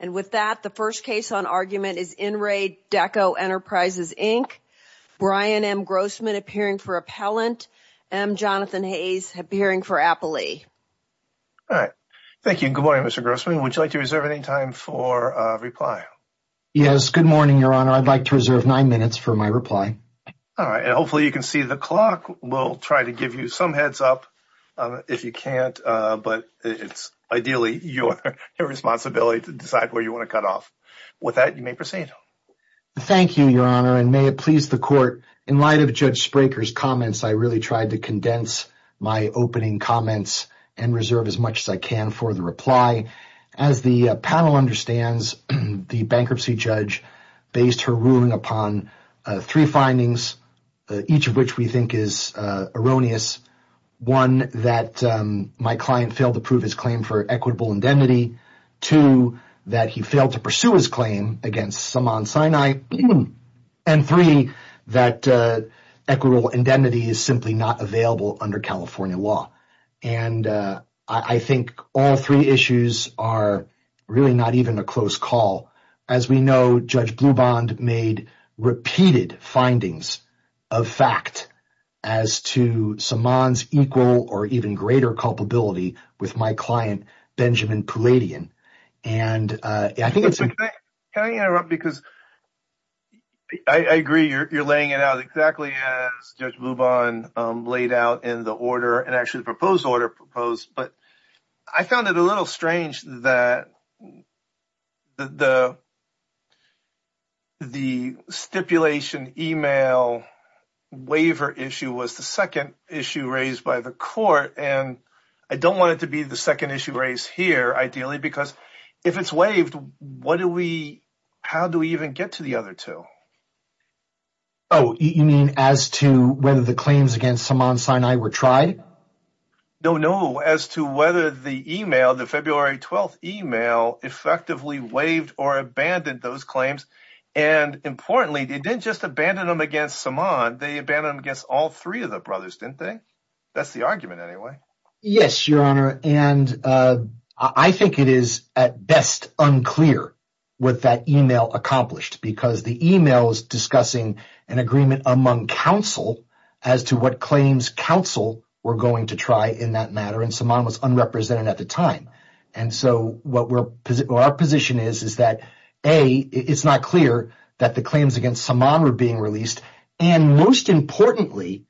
And with that, the first case on argument is In re Deco Enterprises, Inc. Brian M. Grossman appearing for Appellant. M. Jonathan Hayes appearing for Appley. All right. Thank you. Good morning, Mr. Grossman. Would you like to reserve any time for reply? Yes. Good morning, Your Honor. I'd like to reserve nine minutes for my reply. All right, and hopefully you can see the clock. We'll try to give you some heads up if you can't, but it's ideally your responsibility to decide where you want to cut off. With that, you may proceed. Thank you, Your Honor, and may it please the court. In light of Judge Spraker's comments, I really tried to condense my opening comments and reserve as much as I can for the reply. As the panel understands, the bankruptcy judge based her ruling upon three findings, each of which we think is erroneous. One, that my client failed to prove his claim for equitable indemnity. Two, that he failed to pursue his claim against Saman Sinai. And three, that equitable indemnity is simply not available under California law, and I think all three issues are really not even a close call. As we know, Judge Blubond made repeated findings of fact as to Saman's equal or even greater culpability with my client, Benjamin Pouladian. And I think it's... Can I interrupt? Because I agree you're laying it out exactly as Judge Blubond laid out in the order and actually the proposed order proposed, but I found it a little strange that the stipulation email waiver issue was the second issue raised by the court, and I don't want it to be the second issue raised here ideally because if it's waived, what do we... How do we even get to the other two? Oh, you mean as to whether the claims against Saman Sinai were tried? No, no. As to whether the email, the February 12th email, effectively waived or abandoned those claims. And importantly, they didn't just abandon them against Saman, they abandoned them against all three of the brothers, didn't they? That's the argument anyway. Yes, Your Honor, and I think it is at best unclear what that email accomplished because the email is discussing an agreement among counsel as to what claims counsel were going to try in that matter and Saman was unrepresented at the time. And so what our position is, is that A, it's not clear that the claims against Saman were being released, and most importantly,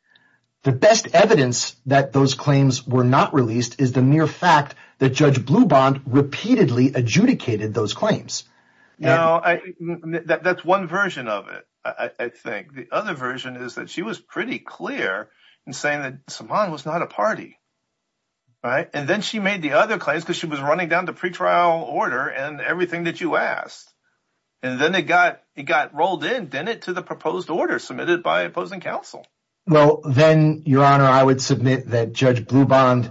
the best evidence that those claims were not released is the mere fact that Judge Blubond repeatedly adjudicated those claims. No, that's one version of it, I think. The other version is that she was pretty clear in saying that Saman was not a party, right? And then she made the other claims because she was running down the pretrial order and everything that you asked. And then it got rolled in, didn't it? To the proposed order submitted by opposing counsel. Well, then, Your Honor, I would submit that Judge Blubond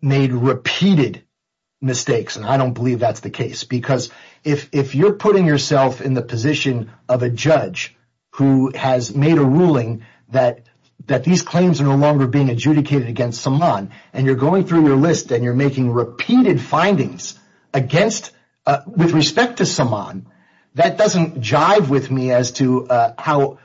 made repeated mistakes and I don't believe that's the case because if you're putting yourself in the position of a judge who has made a ruling that these claims are no longer being adjudicated against Saman and you're going through your list and you're making repeated findings against, with respect to Saman, that doesn't jive with me as to how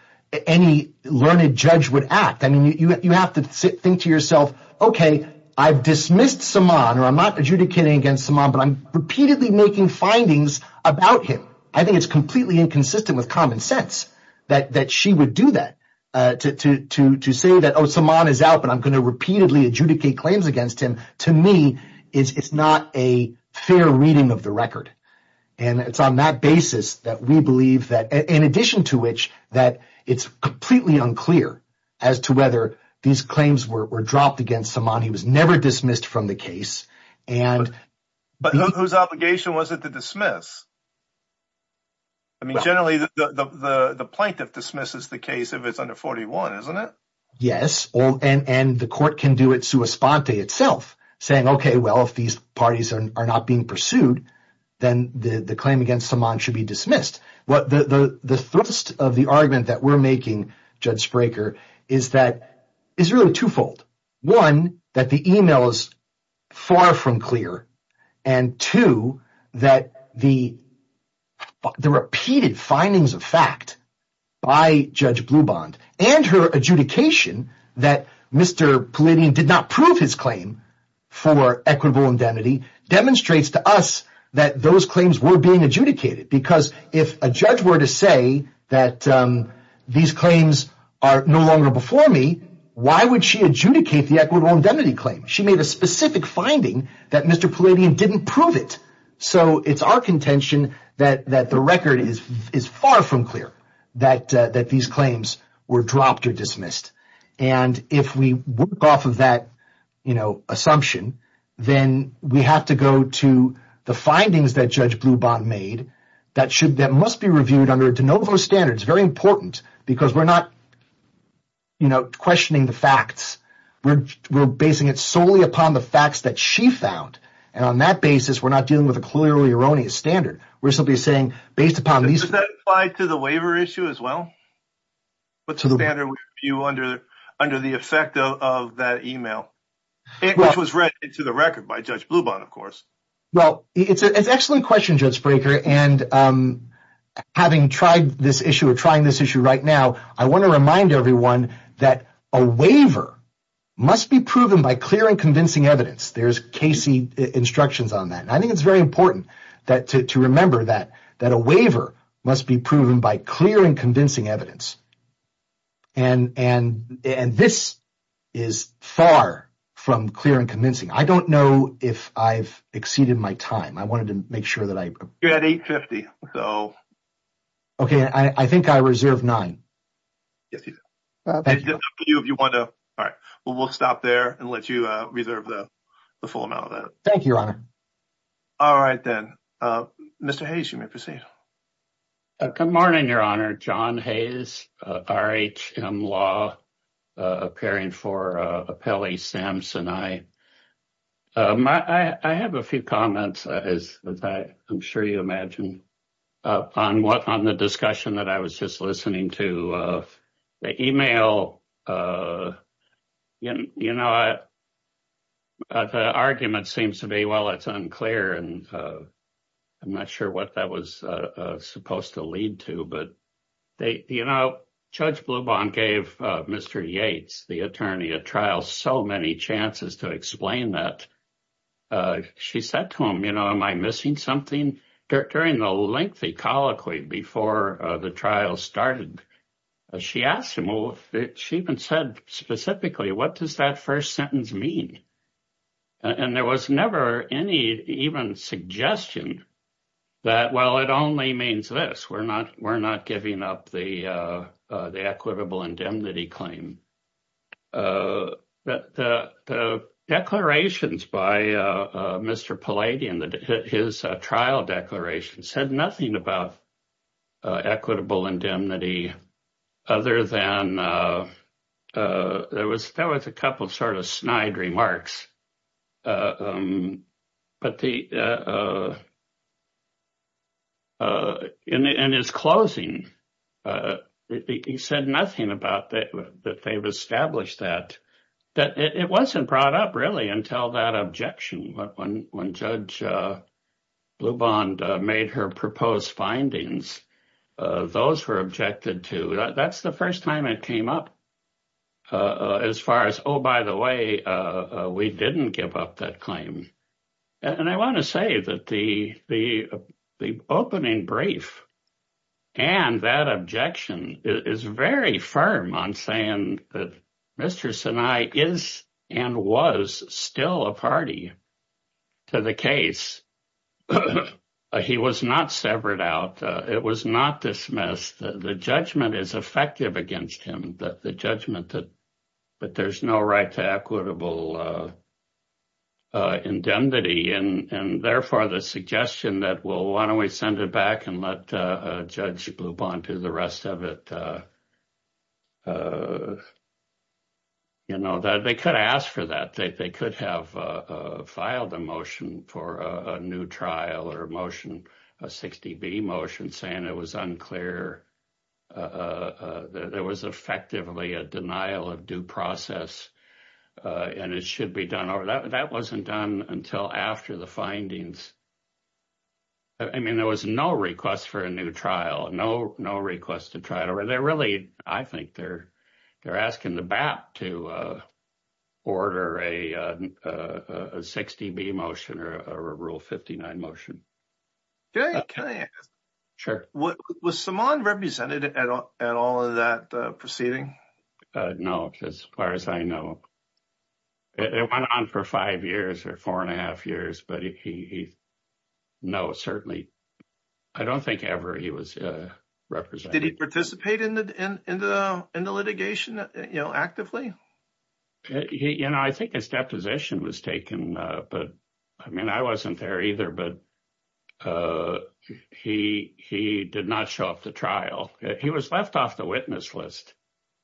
any learned judge would act. I mean, you have to think to yourself, okay, I've dismissed Saman, or I'm not adjudicating against Saman, but I'm repeatedly making findings about him. I think it's completely inconsistent with common sense that she would do that to say that, oh, Saman is out, but I'm going to repeatedly adjudicate claims against him. To me, it's not a fair reading of the record. And it's on that basis that we believe that, in addition to which that it's completely unclear as to whether these claims were dropped against Saman. He was never dismissed from the case. But whose obligation was it to dismiss? I mean, generally, the plaintiff dismisses the case if it's under 41, isn't it? Yes, and the court can do it sua sponte itself, saying, okay, well, if these parties are not being pursued, then the claim against Saman should be dismissed. The thrust of the argument that we're making, Judge Spraker, is that it's really twofold. One, that the email is far from clear. And two, that the repeated findings of fact by Judge Blubond and her adjudication that Mr. Palladian did not prove his claim for equitable indemnity demonstrates to us that those claims were being adjudicated. Because if a judge were to say that these claims are no longer before me, why would she adjudicate the equitable indemnity claim? She made a specific finding that Mr. Palladian didn't prove it. So it's our contention that the record is far from clear that these claims were dropped or dismissed. And if we work off of that, you know, assumption, then we have to go to the findings that Judge Blubond made that must be reviewed under de novo standards. Very important, because we're not, you know, questioning the facts. We're basing it solely upon the facts that she found, and on that basis, we're not dealing with a clearly erroneous standard. We're simply saying, based upon these- Does that apply to the waiver issue as well? What's the standard review under the effect of that email? It was read into the record by Judge Blubond, of course. Well, it's an excellent question, Judge Brekker. And having tried this issue or trying this issue right now, I want to remind everyone that a waiver must be proven by clear and convincing evidence. There's Casey instructions on that. And I think it's very important to remember that a waiver must be proven by clear and convincing evidence. And this is far from clear and convincing. I don't know if I've exceeded my time. I wanted to make sure that I- You're at 8.50, so- Okay, I think I reserved nine. Yes, you did. Thank you. It's up to you if you want to- All right, well, we'll stop there and let you reserve the full amount of that. Thank you, Your Honor. All right, then. Mr. Hayes, you may proceed. Good morning, Your Honor. John Hayes, RHM Law, appearing for Appellee Samson. I have a few comments, as I'm sure you imagine, on what- on the discussion that I was just listening to. The email, you know, the argument seems to be, well, it's unclear. And I'm not sure what that was supposed to lead to. But, you know, Judge Blubin gave Mr. Yates, the attorney at trial, so many chances to explain that. She said to him, you know, am I missing something? During the lengthy colloquy before the trial started, she asked him, well, she even said specifically, what does that first sentence mean? And there was never any even suggestion that, well, it only means this. We're not giving up the equitable indemnity claim. But the declarations by Mr. Palladio and his trial declaration said nothing about equitable indemnity, other than there was a couple sort of snide remarks. But in his closing, he said nothing about that they've established that. It wasn't brought up, really, until that objection when Judge Blubin made her proposed findings. Those were objected to. That's the first time it came up as far as, oh, by the way, we didn't give up that claim. And I want to say that the opening brief and that objection is very firm on saying that Mr. Sinai is and was still a party to the case. He was not severed out. It was not dismissed. The judgment is effective against him, the judgment that there's no right to equitable indemnity. And therefore, the suggestion that, well, why don't we send it back and let Judge Blubin do the rest of it? You know, they could ask for that. They could have filed a motion for a new trial or a motion, a 60B motion, saying it was unclear. There was effectively a denial of due process, and it should be done over. That wasn't done until after the findings. I mean, there was no request for a new trial, no request to try it over. They're really, I think, they're asking the BAP to order a 60B motion or a Rule 59 motion. Was Simon represented at all in that proceeding? No, as far as I know. It went on for five years or four and a half years. But he, no, certainly, I don't think ever he was represented. Did he participate in the litigation, you know, actively? You know, I think his deposition was taken, but I mean, I wasn't there either. But he did not show up to trial. He was left off the witness list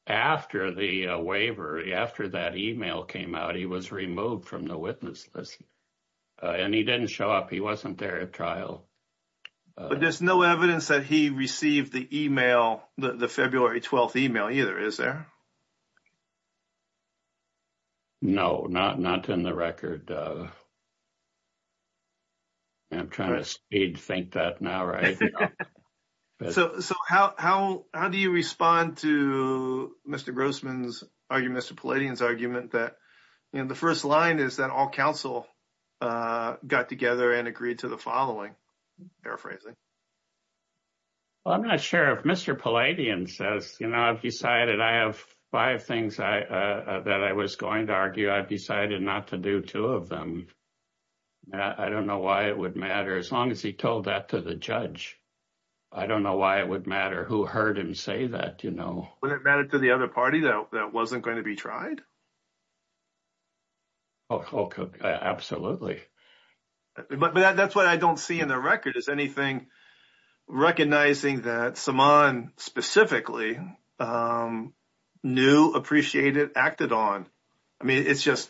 after the waiver, after that email came out. He was removed from the witness list, and he didn't show up. He wasn't there at trial. But there's no evidence that he received the email, the February 12th email either, is there? No, not in the record. I'm trying to speed think that now, right? So how do you respond to Mr. Grossman's argument, Mr. Palladian's argument that, you know, the first line is that all counsel got together and agreed to the following. Paraphrasing. I'm not sure if Mr. Palladian says, you know, I've decided I have five things that I was going to argue. I've decided not to do two of them. I don't know why it would matter as long as he told that to the judge. I don't know why it would matter who heard him say that, you know. Would it matter to the other party that wasn't going to be tried? Oh, absolutely. But that's what I don't see in the record. Is anything recognizing that Saman specifically knew, appreciated, acted on? I mean, it's just,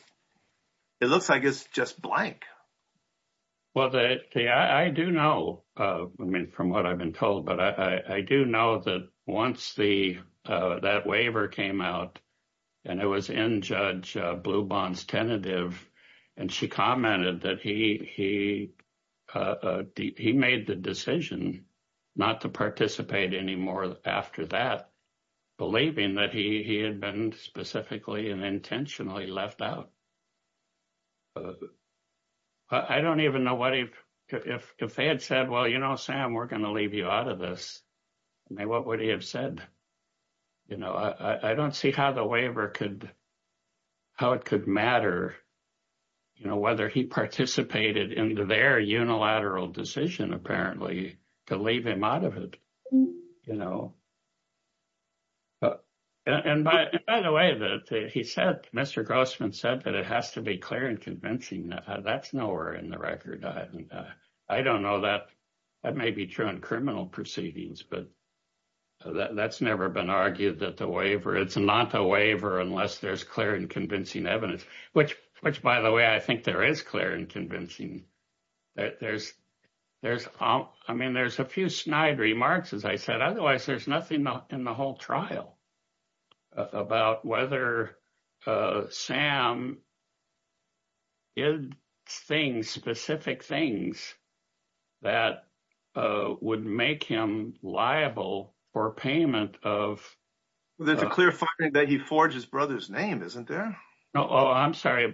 it looks like it's just blank. Well, I do know, I mean, from what I've been told, but I do know that once that waiver came out and it was in Judge Blubon's tentative, and she commented that he made the decision not to participate anymore after that, believing that he had been specifically and intentionally left out. I don't even know what if they had said, well, you know, Sam, we're going to leave you out of this. I mean, what would he have said? You know, I don't see how the waiver could, how it could matter, you know, whether he participated in their unilateral decision, apparently, to leave him out of it, you know. And by the way, he said, Mr. Grossman said that it has to be clear and convincing. That's nowhere in the record. I don't know that that may be true in criminal proceedings, but that's never been argued that the waiver, it's not a waiver unless there's clear and convincing evidence, which, which, by the way, I think there is clear and convincing. There's, there's, I mean, there's a few snide remarks, as I said, otherwise, there's nothing in the whole trial about whether Sam. Is things specific things that would make him liable for payment of that's a clear finding that he forged his brother's name. Isn't there? Oh, I'm sorry.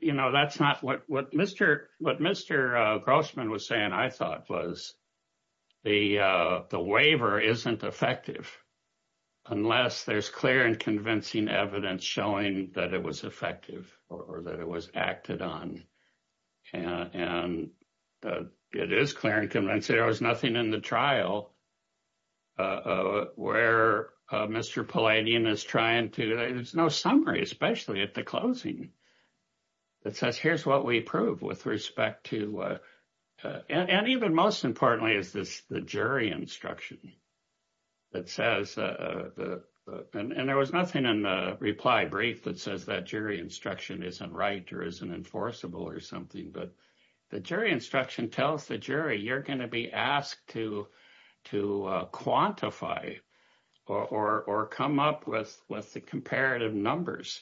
You know, that's not what Mr. What Mr. Grossman was saying. I thought it was the, the waiver isn't effective unless there's clear and convincing evidence showing that it was effective or that it was acted on and it is clear and convinced there was nothing in the trial. Where Mr. Polanian is trying to there's no summary, especially at the closing. That says, here's what we prove with respect to, and even most importantly, is this the jury instruction. That says, and there was nothing in the reply brief that says that jury instruction isn't right or isn't enforceable or something but the jury instruction tells the jury you're going to be asked to, to quantify or come up with with the comparative numbers.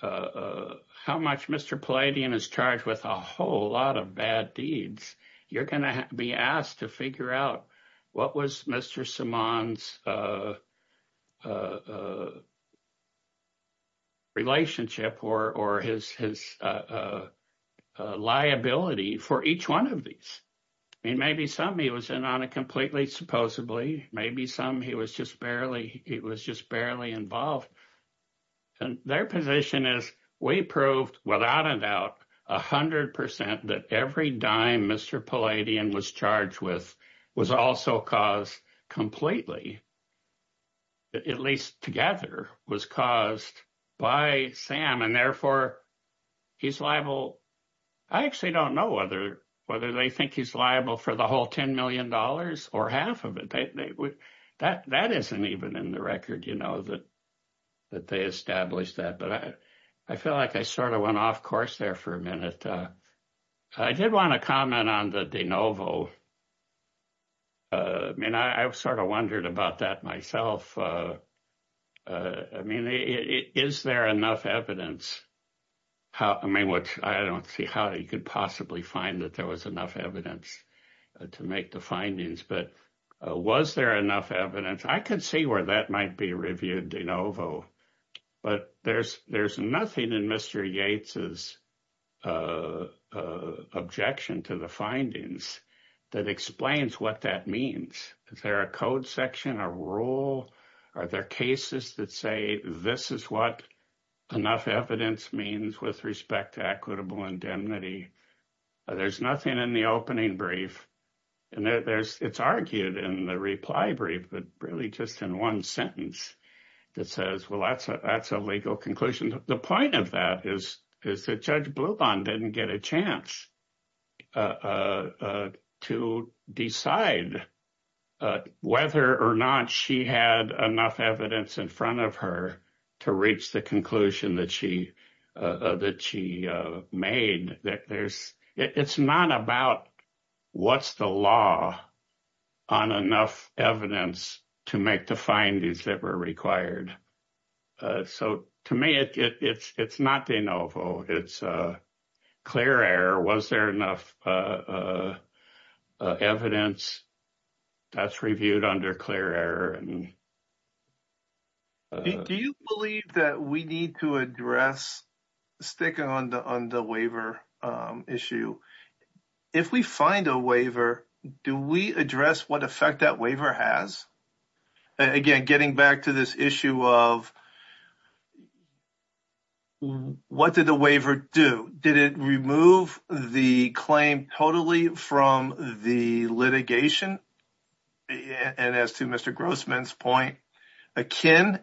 How much Mr. Polanian is charged with a whole lot of bad deeds, you're going to be asked to figure out what was Mr. Simone's relationship or or his, his liability for each one of these. And maybe some he was in on a completely supposedly, maybe some he was just barely, it was just barely involved. And their position is, we proved without a doubt 100% that every dime Mr. Polanian was charged with was also caused completely. At least together was caused by Sam and therefore he's liable. I actually don't know whether whether they think he's liable for the whole $10 million or half of it. That that isn't even in the record, you know that that they established that but I, I feel like I sort of went off course there for a minute. But I did want to comment on the de novo. And I sort of wondered about that myself. I mean, is there enough evidence. How I mean what I don't see how you could possibly find that there was enough evidence to make the findings but was there enough evidence I could see where that might be reviewed de novo. But there's, there's nothing in Mr. Yates's objection to the findings that explains what that means. Is there a code section or rule. Are there cases that say this is what enough evidence means with respect to equitable indemnity. There's nothing in the opening brief. And there's, it's argued in the reply brief, but really just in one sentence that says, well, that's a, that's a legal conclusion. And the point of that is, is that judge blue bond didn't get a chance to decide whether or not she had enough evidence in front of her to reach the conclusion that she that she made that there's, it's not about what's the law on enough evidence to make the findings that were required. So, to me, it's, it's not de novo, it's a clear air was there enough evidence that's reviewed under clear error. Do you believe that we need to address sticking on the, on the waiver issue? If we find a waiver, do we address what effect that waiver has again, getting back to this issue of. What did the waiver do? Did it remove the claim totally from the litigation? And as to Mr Grossman's point, akin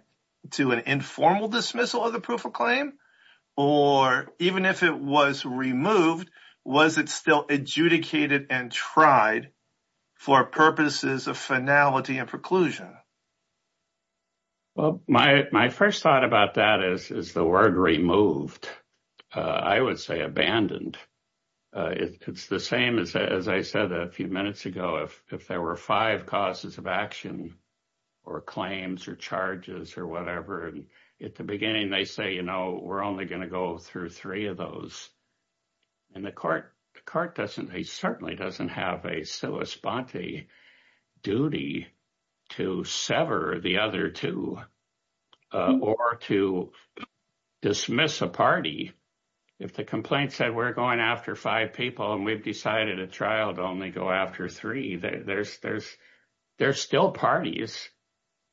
to an informal dismissal of the proof of claim, or even if it was removed, was it still adjudicated and tried for purposes of finality and preclusion. Well, my, my first thought about that is, is the word removed. I would say abandoned. It's the same as I said a few minutes ago, if, if there were five causes of action or claims or charges or whatever. And at the beginning they say, you know, we're only going to go through three of those. And the court, the court doesn't he certainly doesn't have a Silas Bonte duty to sever the other two, or to dismiss a party. If the complaint said we're going after five people and we've decided a trial to only go after three there's there's there's still parties.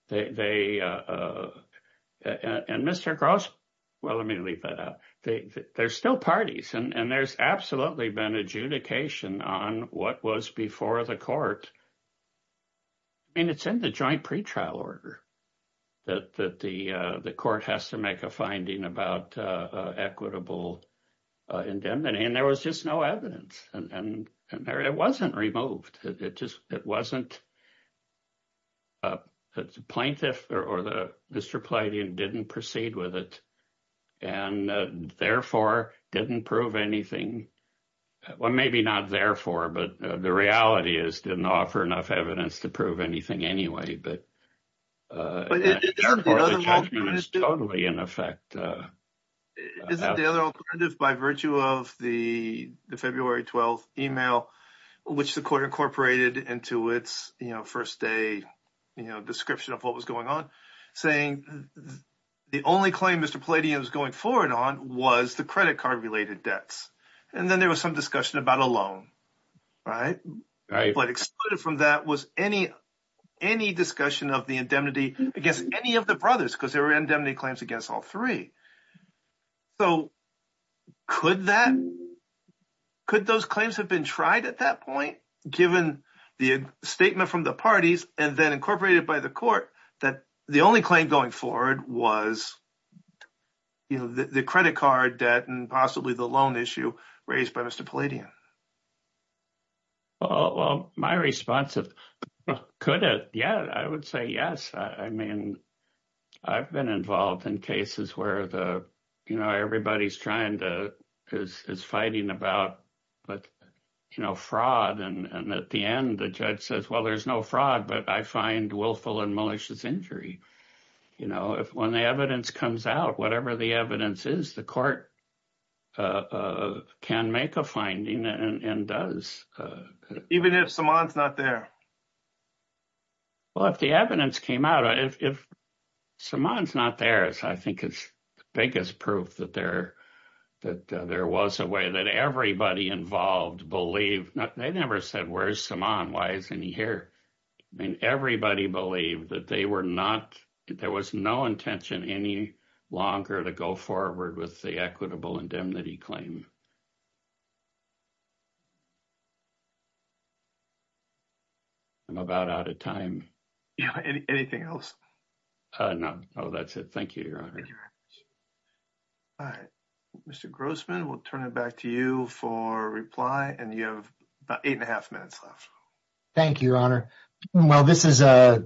There's still parties and there's absolutely been adjudication on what was before the court. I mean, it's in the joint pretrial order that the court has to make a finding about equitable indemnity and there was just no evidence and it wasn't removed. It just, it wasn't a plaintiff or the Mr. Plenty and didn't proceed with it, and therefore didn't prove anything. Well, maybe not. Therefore, but the reality is didn't offer enough evidence to prove anything anyway, but. Totally, in effect. The other alternative by virtue of the February 12 email, which the court incorporated into its first day, you know, description of what was going on, saying the only claim Mr Platy is going forward on was the credit card related debts. And then there was some discussion about a loan, right? But excluded from that was any, any discussion of the indemnity against any of the brothers because there were indemnity claims against all three. So could that could those claims have been tried at that point, given the statement from the parties and then incorporated by the court that the only claim going forward was the credit card debt and possibly the loan issue raised by Mr. Well, my response is, could it? Yeah, I would say yes. I mean, I've been involved in cases where the, you know, everybody's trying to is fighting about, but, you know, fraud. And at the end, the judge says, well, there's no fraud, but I find willful and malicious injury. You know, when the evidence comes out, whatever the evidence is, the court can make a finding and does even if someone's not there. Well, if the evidence came out, if someone's not there, so I think it's the biggest proof that there that there was a way that everybody involved believe that they never said where's some on why isn't he here. I mean, everybody believed that they were not there was no intention any longer to go forward with the equitable indemnity claim. I'm about out of time. Anything else. No, no, that's it. Thank you, Your Honor. All right, Mr. Grossman, we'll turn it back to you for reply and you have eight and a half minutes left. Thank you, Your Honor. Well, this is a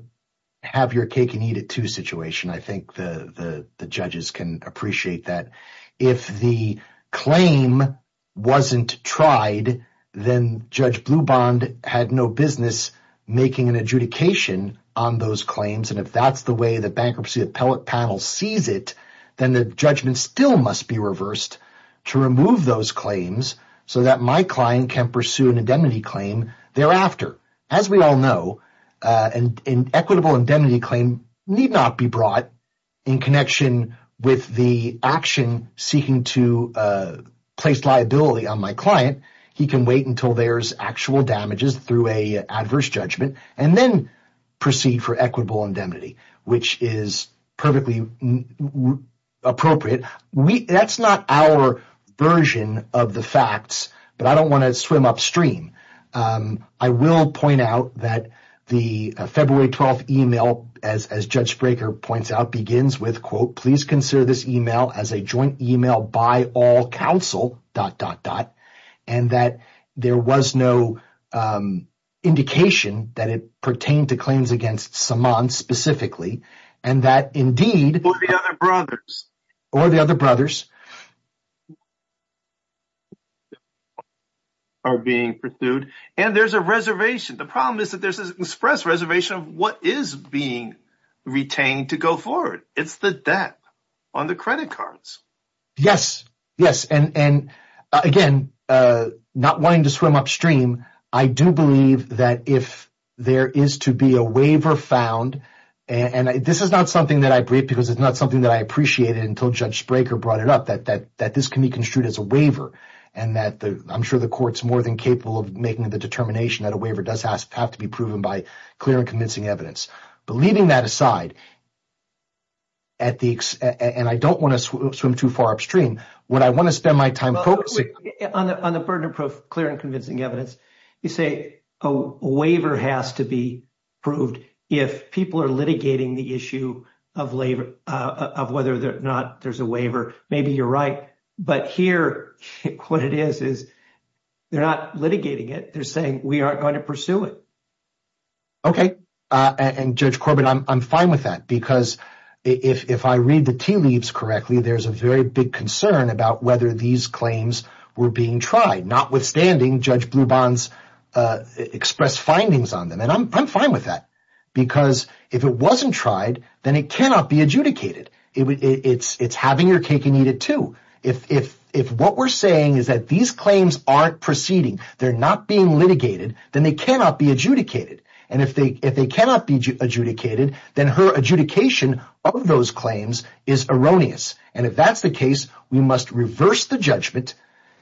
have your cake and eat it to situation. I think the judges can appreciate that. If the claim wasn't tried, then Judge Blue Bond had no business making an adjudication on those claims. And if that's the way the bankruptcy appellate panel sees it, then the judgment still must be reversed to remove those claims so that my client can pursue an indemnity claim thereafter. As we all know, an equitable indemnity claim need not be brought in connection with the action seeking to place liability on my client. He can wait until there's actual damages through a adverse judgment and then proceed for equitable indemnity, which is perfectly appropriate. That's not our version of the facts, but I don't want to swim upstream. I will point out that the February 12th email, as Judge Breaker points out, begins with, quote, please consider this email as a joint email by all counsel, dot, dot, dot. And that there was no indication that it pertained to claims against Samant specifically and that indeed the other brothers or the other brothers are being pursued. And there's a reservation. The problem is that there's an express reservation of what is being retained to go forward. It's the debt on the credit cards. Yes, yes. And again, not wanting to swim upstream. I do believe that if there is to be a waiver found and this is not something that I breathe because it's not something that I appreciated until Judge Breaker brought it up, that that that this can be construed as a waiver. And that I'm sure the court's more than capable of making the determination that a waiver does have to be proven by clear and convincing evidence. But leaving that aside. At the end, I don't want to swim too far upstream when I want to spend my time focusing on the burden of clear and convincing evidence. You say a waiver has to be proved if people are litigating the issue of labor, of whether or not there's a waiver. Maybe you're right. But here, what it is, is they're not litigating it. They're saying we aren't going to pursue it. OK. And Judge Corbin, I'm fine with that, because if I read the tea leaves correctly, there's a very big concern about whether these claims were being tried. Notwithstanding, Judge Bloubon's expressed findings on them. And I'm fine with that, because if it wasn't tried, then it cannot be adjudicated. It's having your cake and eat it, too. If what we're saying is that these claims aren't proceeding, they're not being litigated, then they cannot be adjudicated. And if they cannot be adjudicated, then her adjudication of those claims is erroneous. And if that's the case, we must reverse the judgment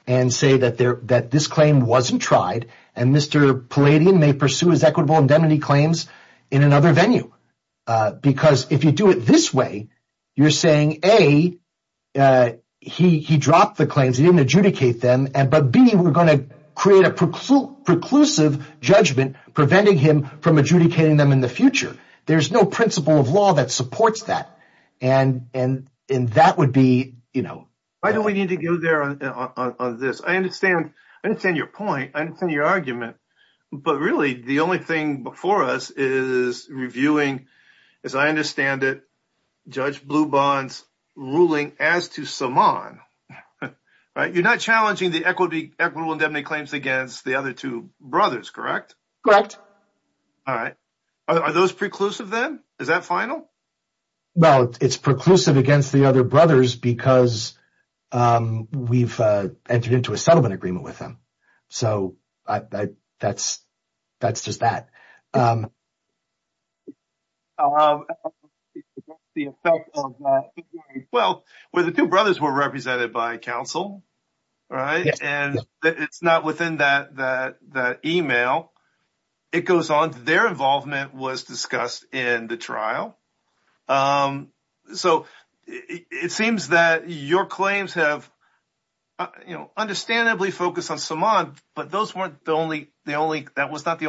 and say that this claim wasn't tried. And Mr. Palladian may pursue his equitable indemnity claims in another venue. Because if you do it this way, you're saying, A, he dropped the claims. He didn't adjudicate them. But B, we're going to create a preclusive judgment preventing him from adjudicating them in the future. There's no principle of law that supports that. And that would be, you know. Why do we need to go there on this? I understand. I understand your point. I understand your argument. But really, the only thing before us is reviewing, as I understand it, Judge Bloubon's ruling as to Saman. You're not challenging the equitable indemnity claims against the other two brothers, correct? Correct. All right. Are those preclusive then? Is that final? Well, it's preclusive against the other brothers because we've entered into a settlement agreement with them. So that's just that. Well, the two brothers were represented by counsel, right? And it's not within that email. It goes on. Their involvement was discussed in the trial. So it seems that your claims have, you know, understandably focused on Saman. But that was not the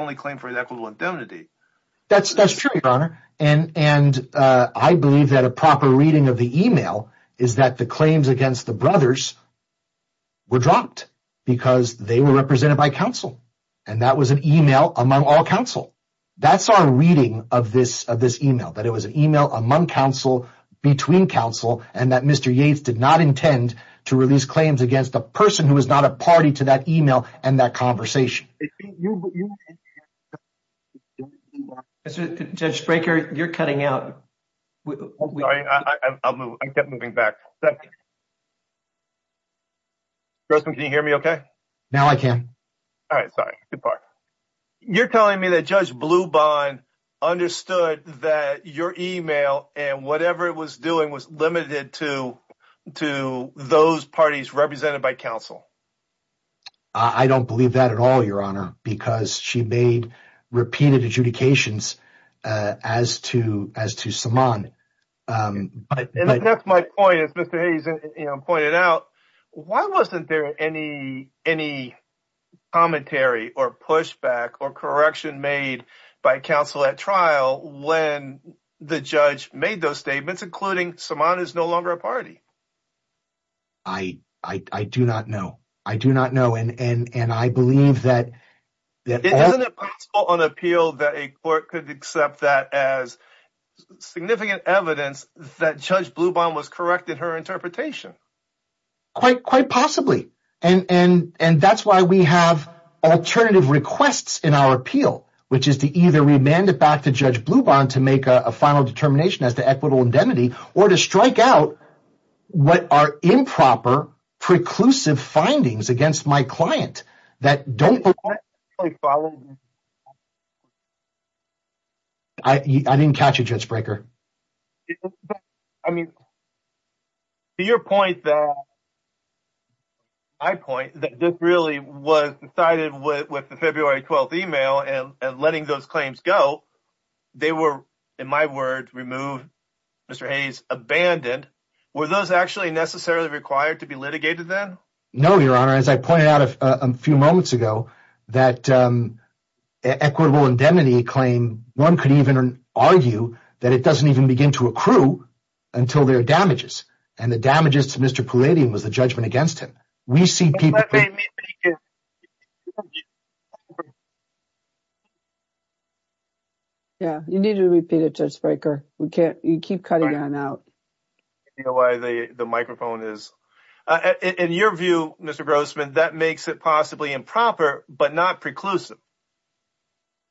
only claim for equitable indemnity. That's true, Your Honor. And I believe that a proper reading of the email is that the claims against the brothers were dropped. Because they were represented by counsel. And that was an email among all counsel. That's our reading of this email, that it was an email among counsel, between counsel, and that Mr. Yates did not intend to release claims against a person who was not a party to that email and that conversation. Judge Spraker, you're cutting out. Sorry, I'll move. I kept moving back. Can you hear me okay? Now I can. All right. Sorry. You're telling me that Judge Blubin understood that your email and whatever it was doing was limited to those parties represented by counsel. I don't believe that at all, Your Honor, because she made repeated adjudications as to Saman. And that's my point, as Mr. Hayes pointed out. Why wasn't there any commentary or pushback or correction made by counsel at trial when the judge made those statements, including Saman is no longer a party? I do not know. I do not know. And I believe that— Isn't it possible on appeal that a court could accept that as significant evidence that Judge Blubin was correct in her interpretation? Quite possibly. And that's why we have alternative requests in our appeal, which is to either remand it back to Judge Blubin to make a final determination as to equitable indemnity, or to strike out what are improper, preclusive findings against my client that don't— I didn't catch you, Judge Brekker. I mean, to your point that—my point, that this really was decided with the February 12th email and letting those claims go, they were, in my words, removed, Mr. Hayes, abandoned. Were those actually necessarily required to be litigated then? No, Your Honor. As I pointed out a few moments ago, that equitable indemnity claim, one could even argue that it doesn't even begin to accrue until there are damages. And the damages to Mr. Palladium was the judgment against him. We see people— Let me repeat it. Yeah, you need to repeat it, Judge Brekker. We can't—you keep cutting on out. I don't know why the microphone is— In your view, Mr. Grossman, that makes it possibly improper, but not preclusive.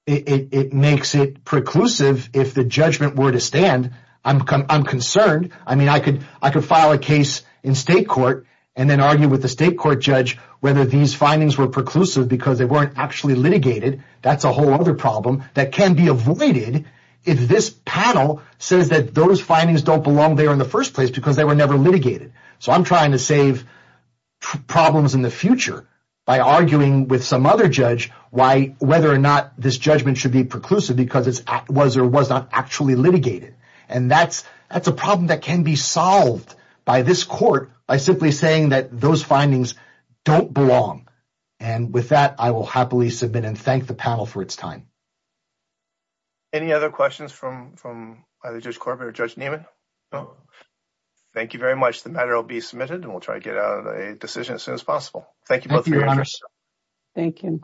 It makes it preclusive if the judgment were to stand. I'm concerned. I mean, I could file a case in state court and then argue with the state court judge whether these findings were preclusive because they weren't actually litigated. That's a whole other problem that can be avoided if this panel says that those findings don't belong there in the first place because they were never litigated. So I'm trying to save problems in the future by arguing with some other judge whether or not this judgment should be preclusive because it was or was not actually litigated. And that's a problem that can be solved by this court by simply saying that those findings don't belong. And with that, I will happily submit and thank the panel for its time. Any other questions from either Judge Corbett or Judge Nieman? Thank you very much. The matter will be submitted, and we'll try to get out a decision as soon as possible. Thank you both for your interest. Thank you.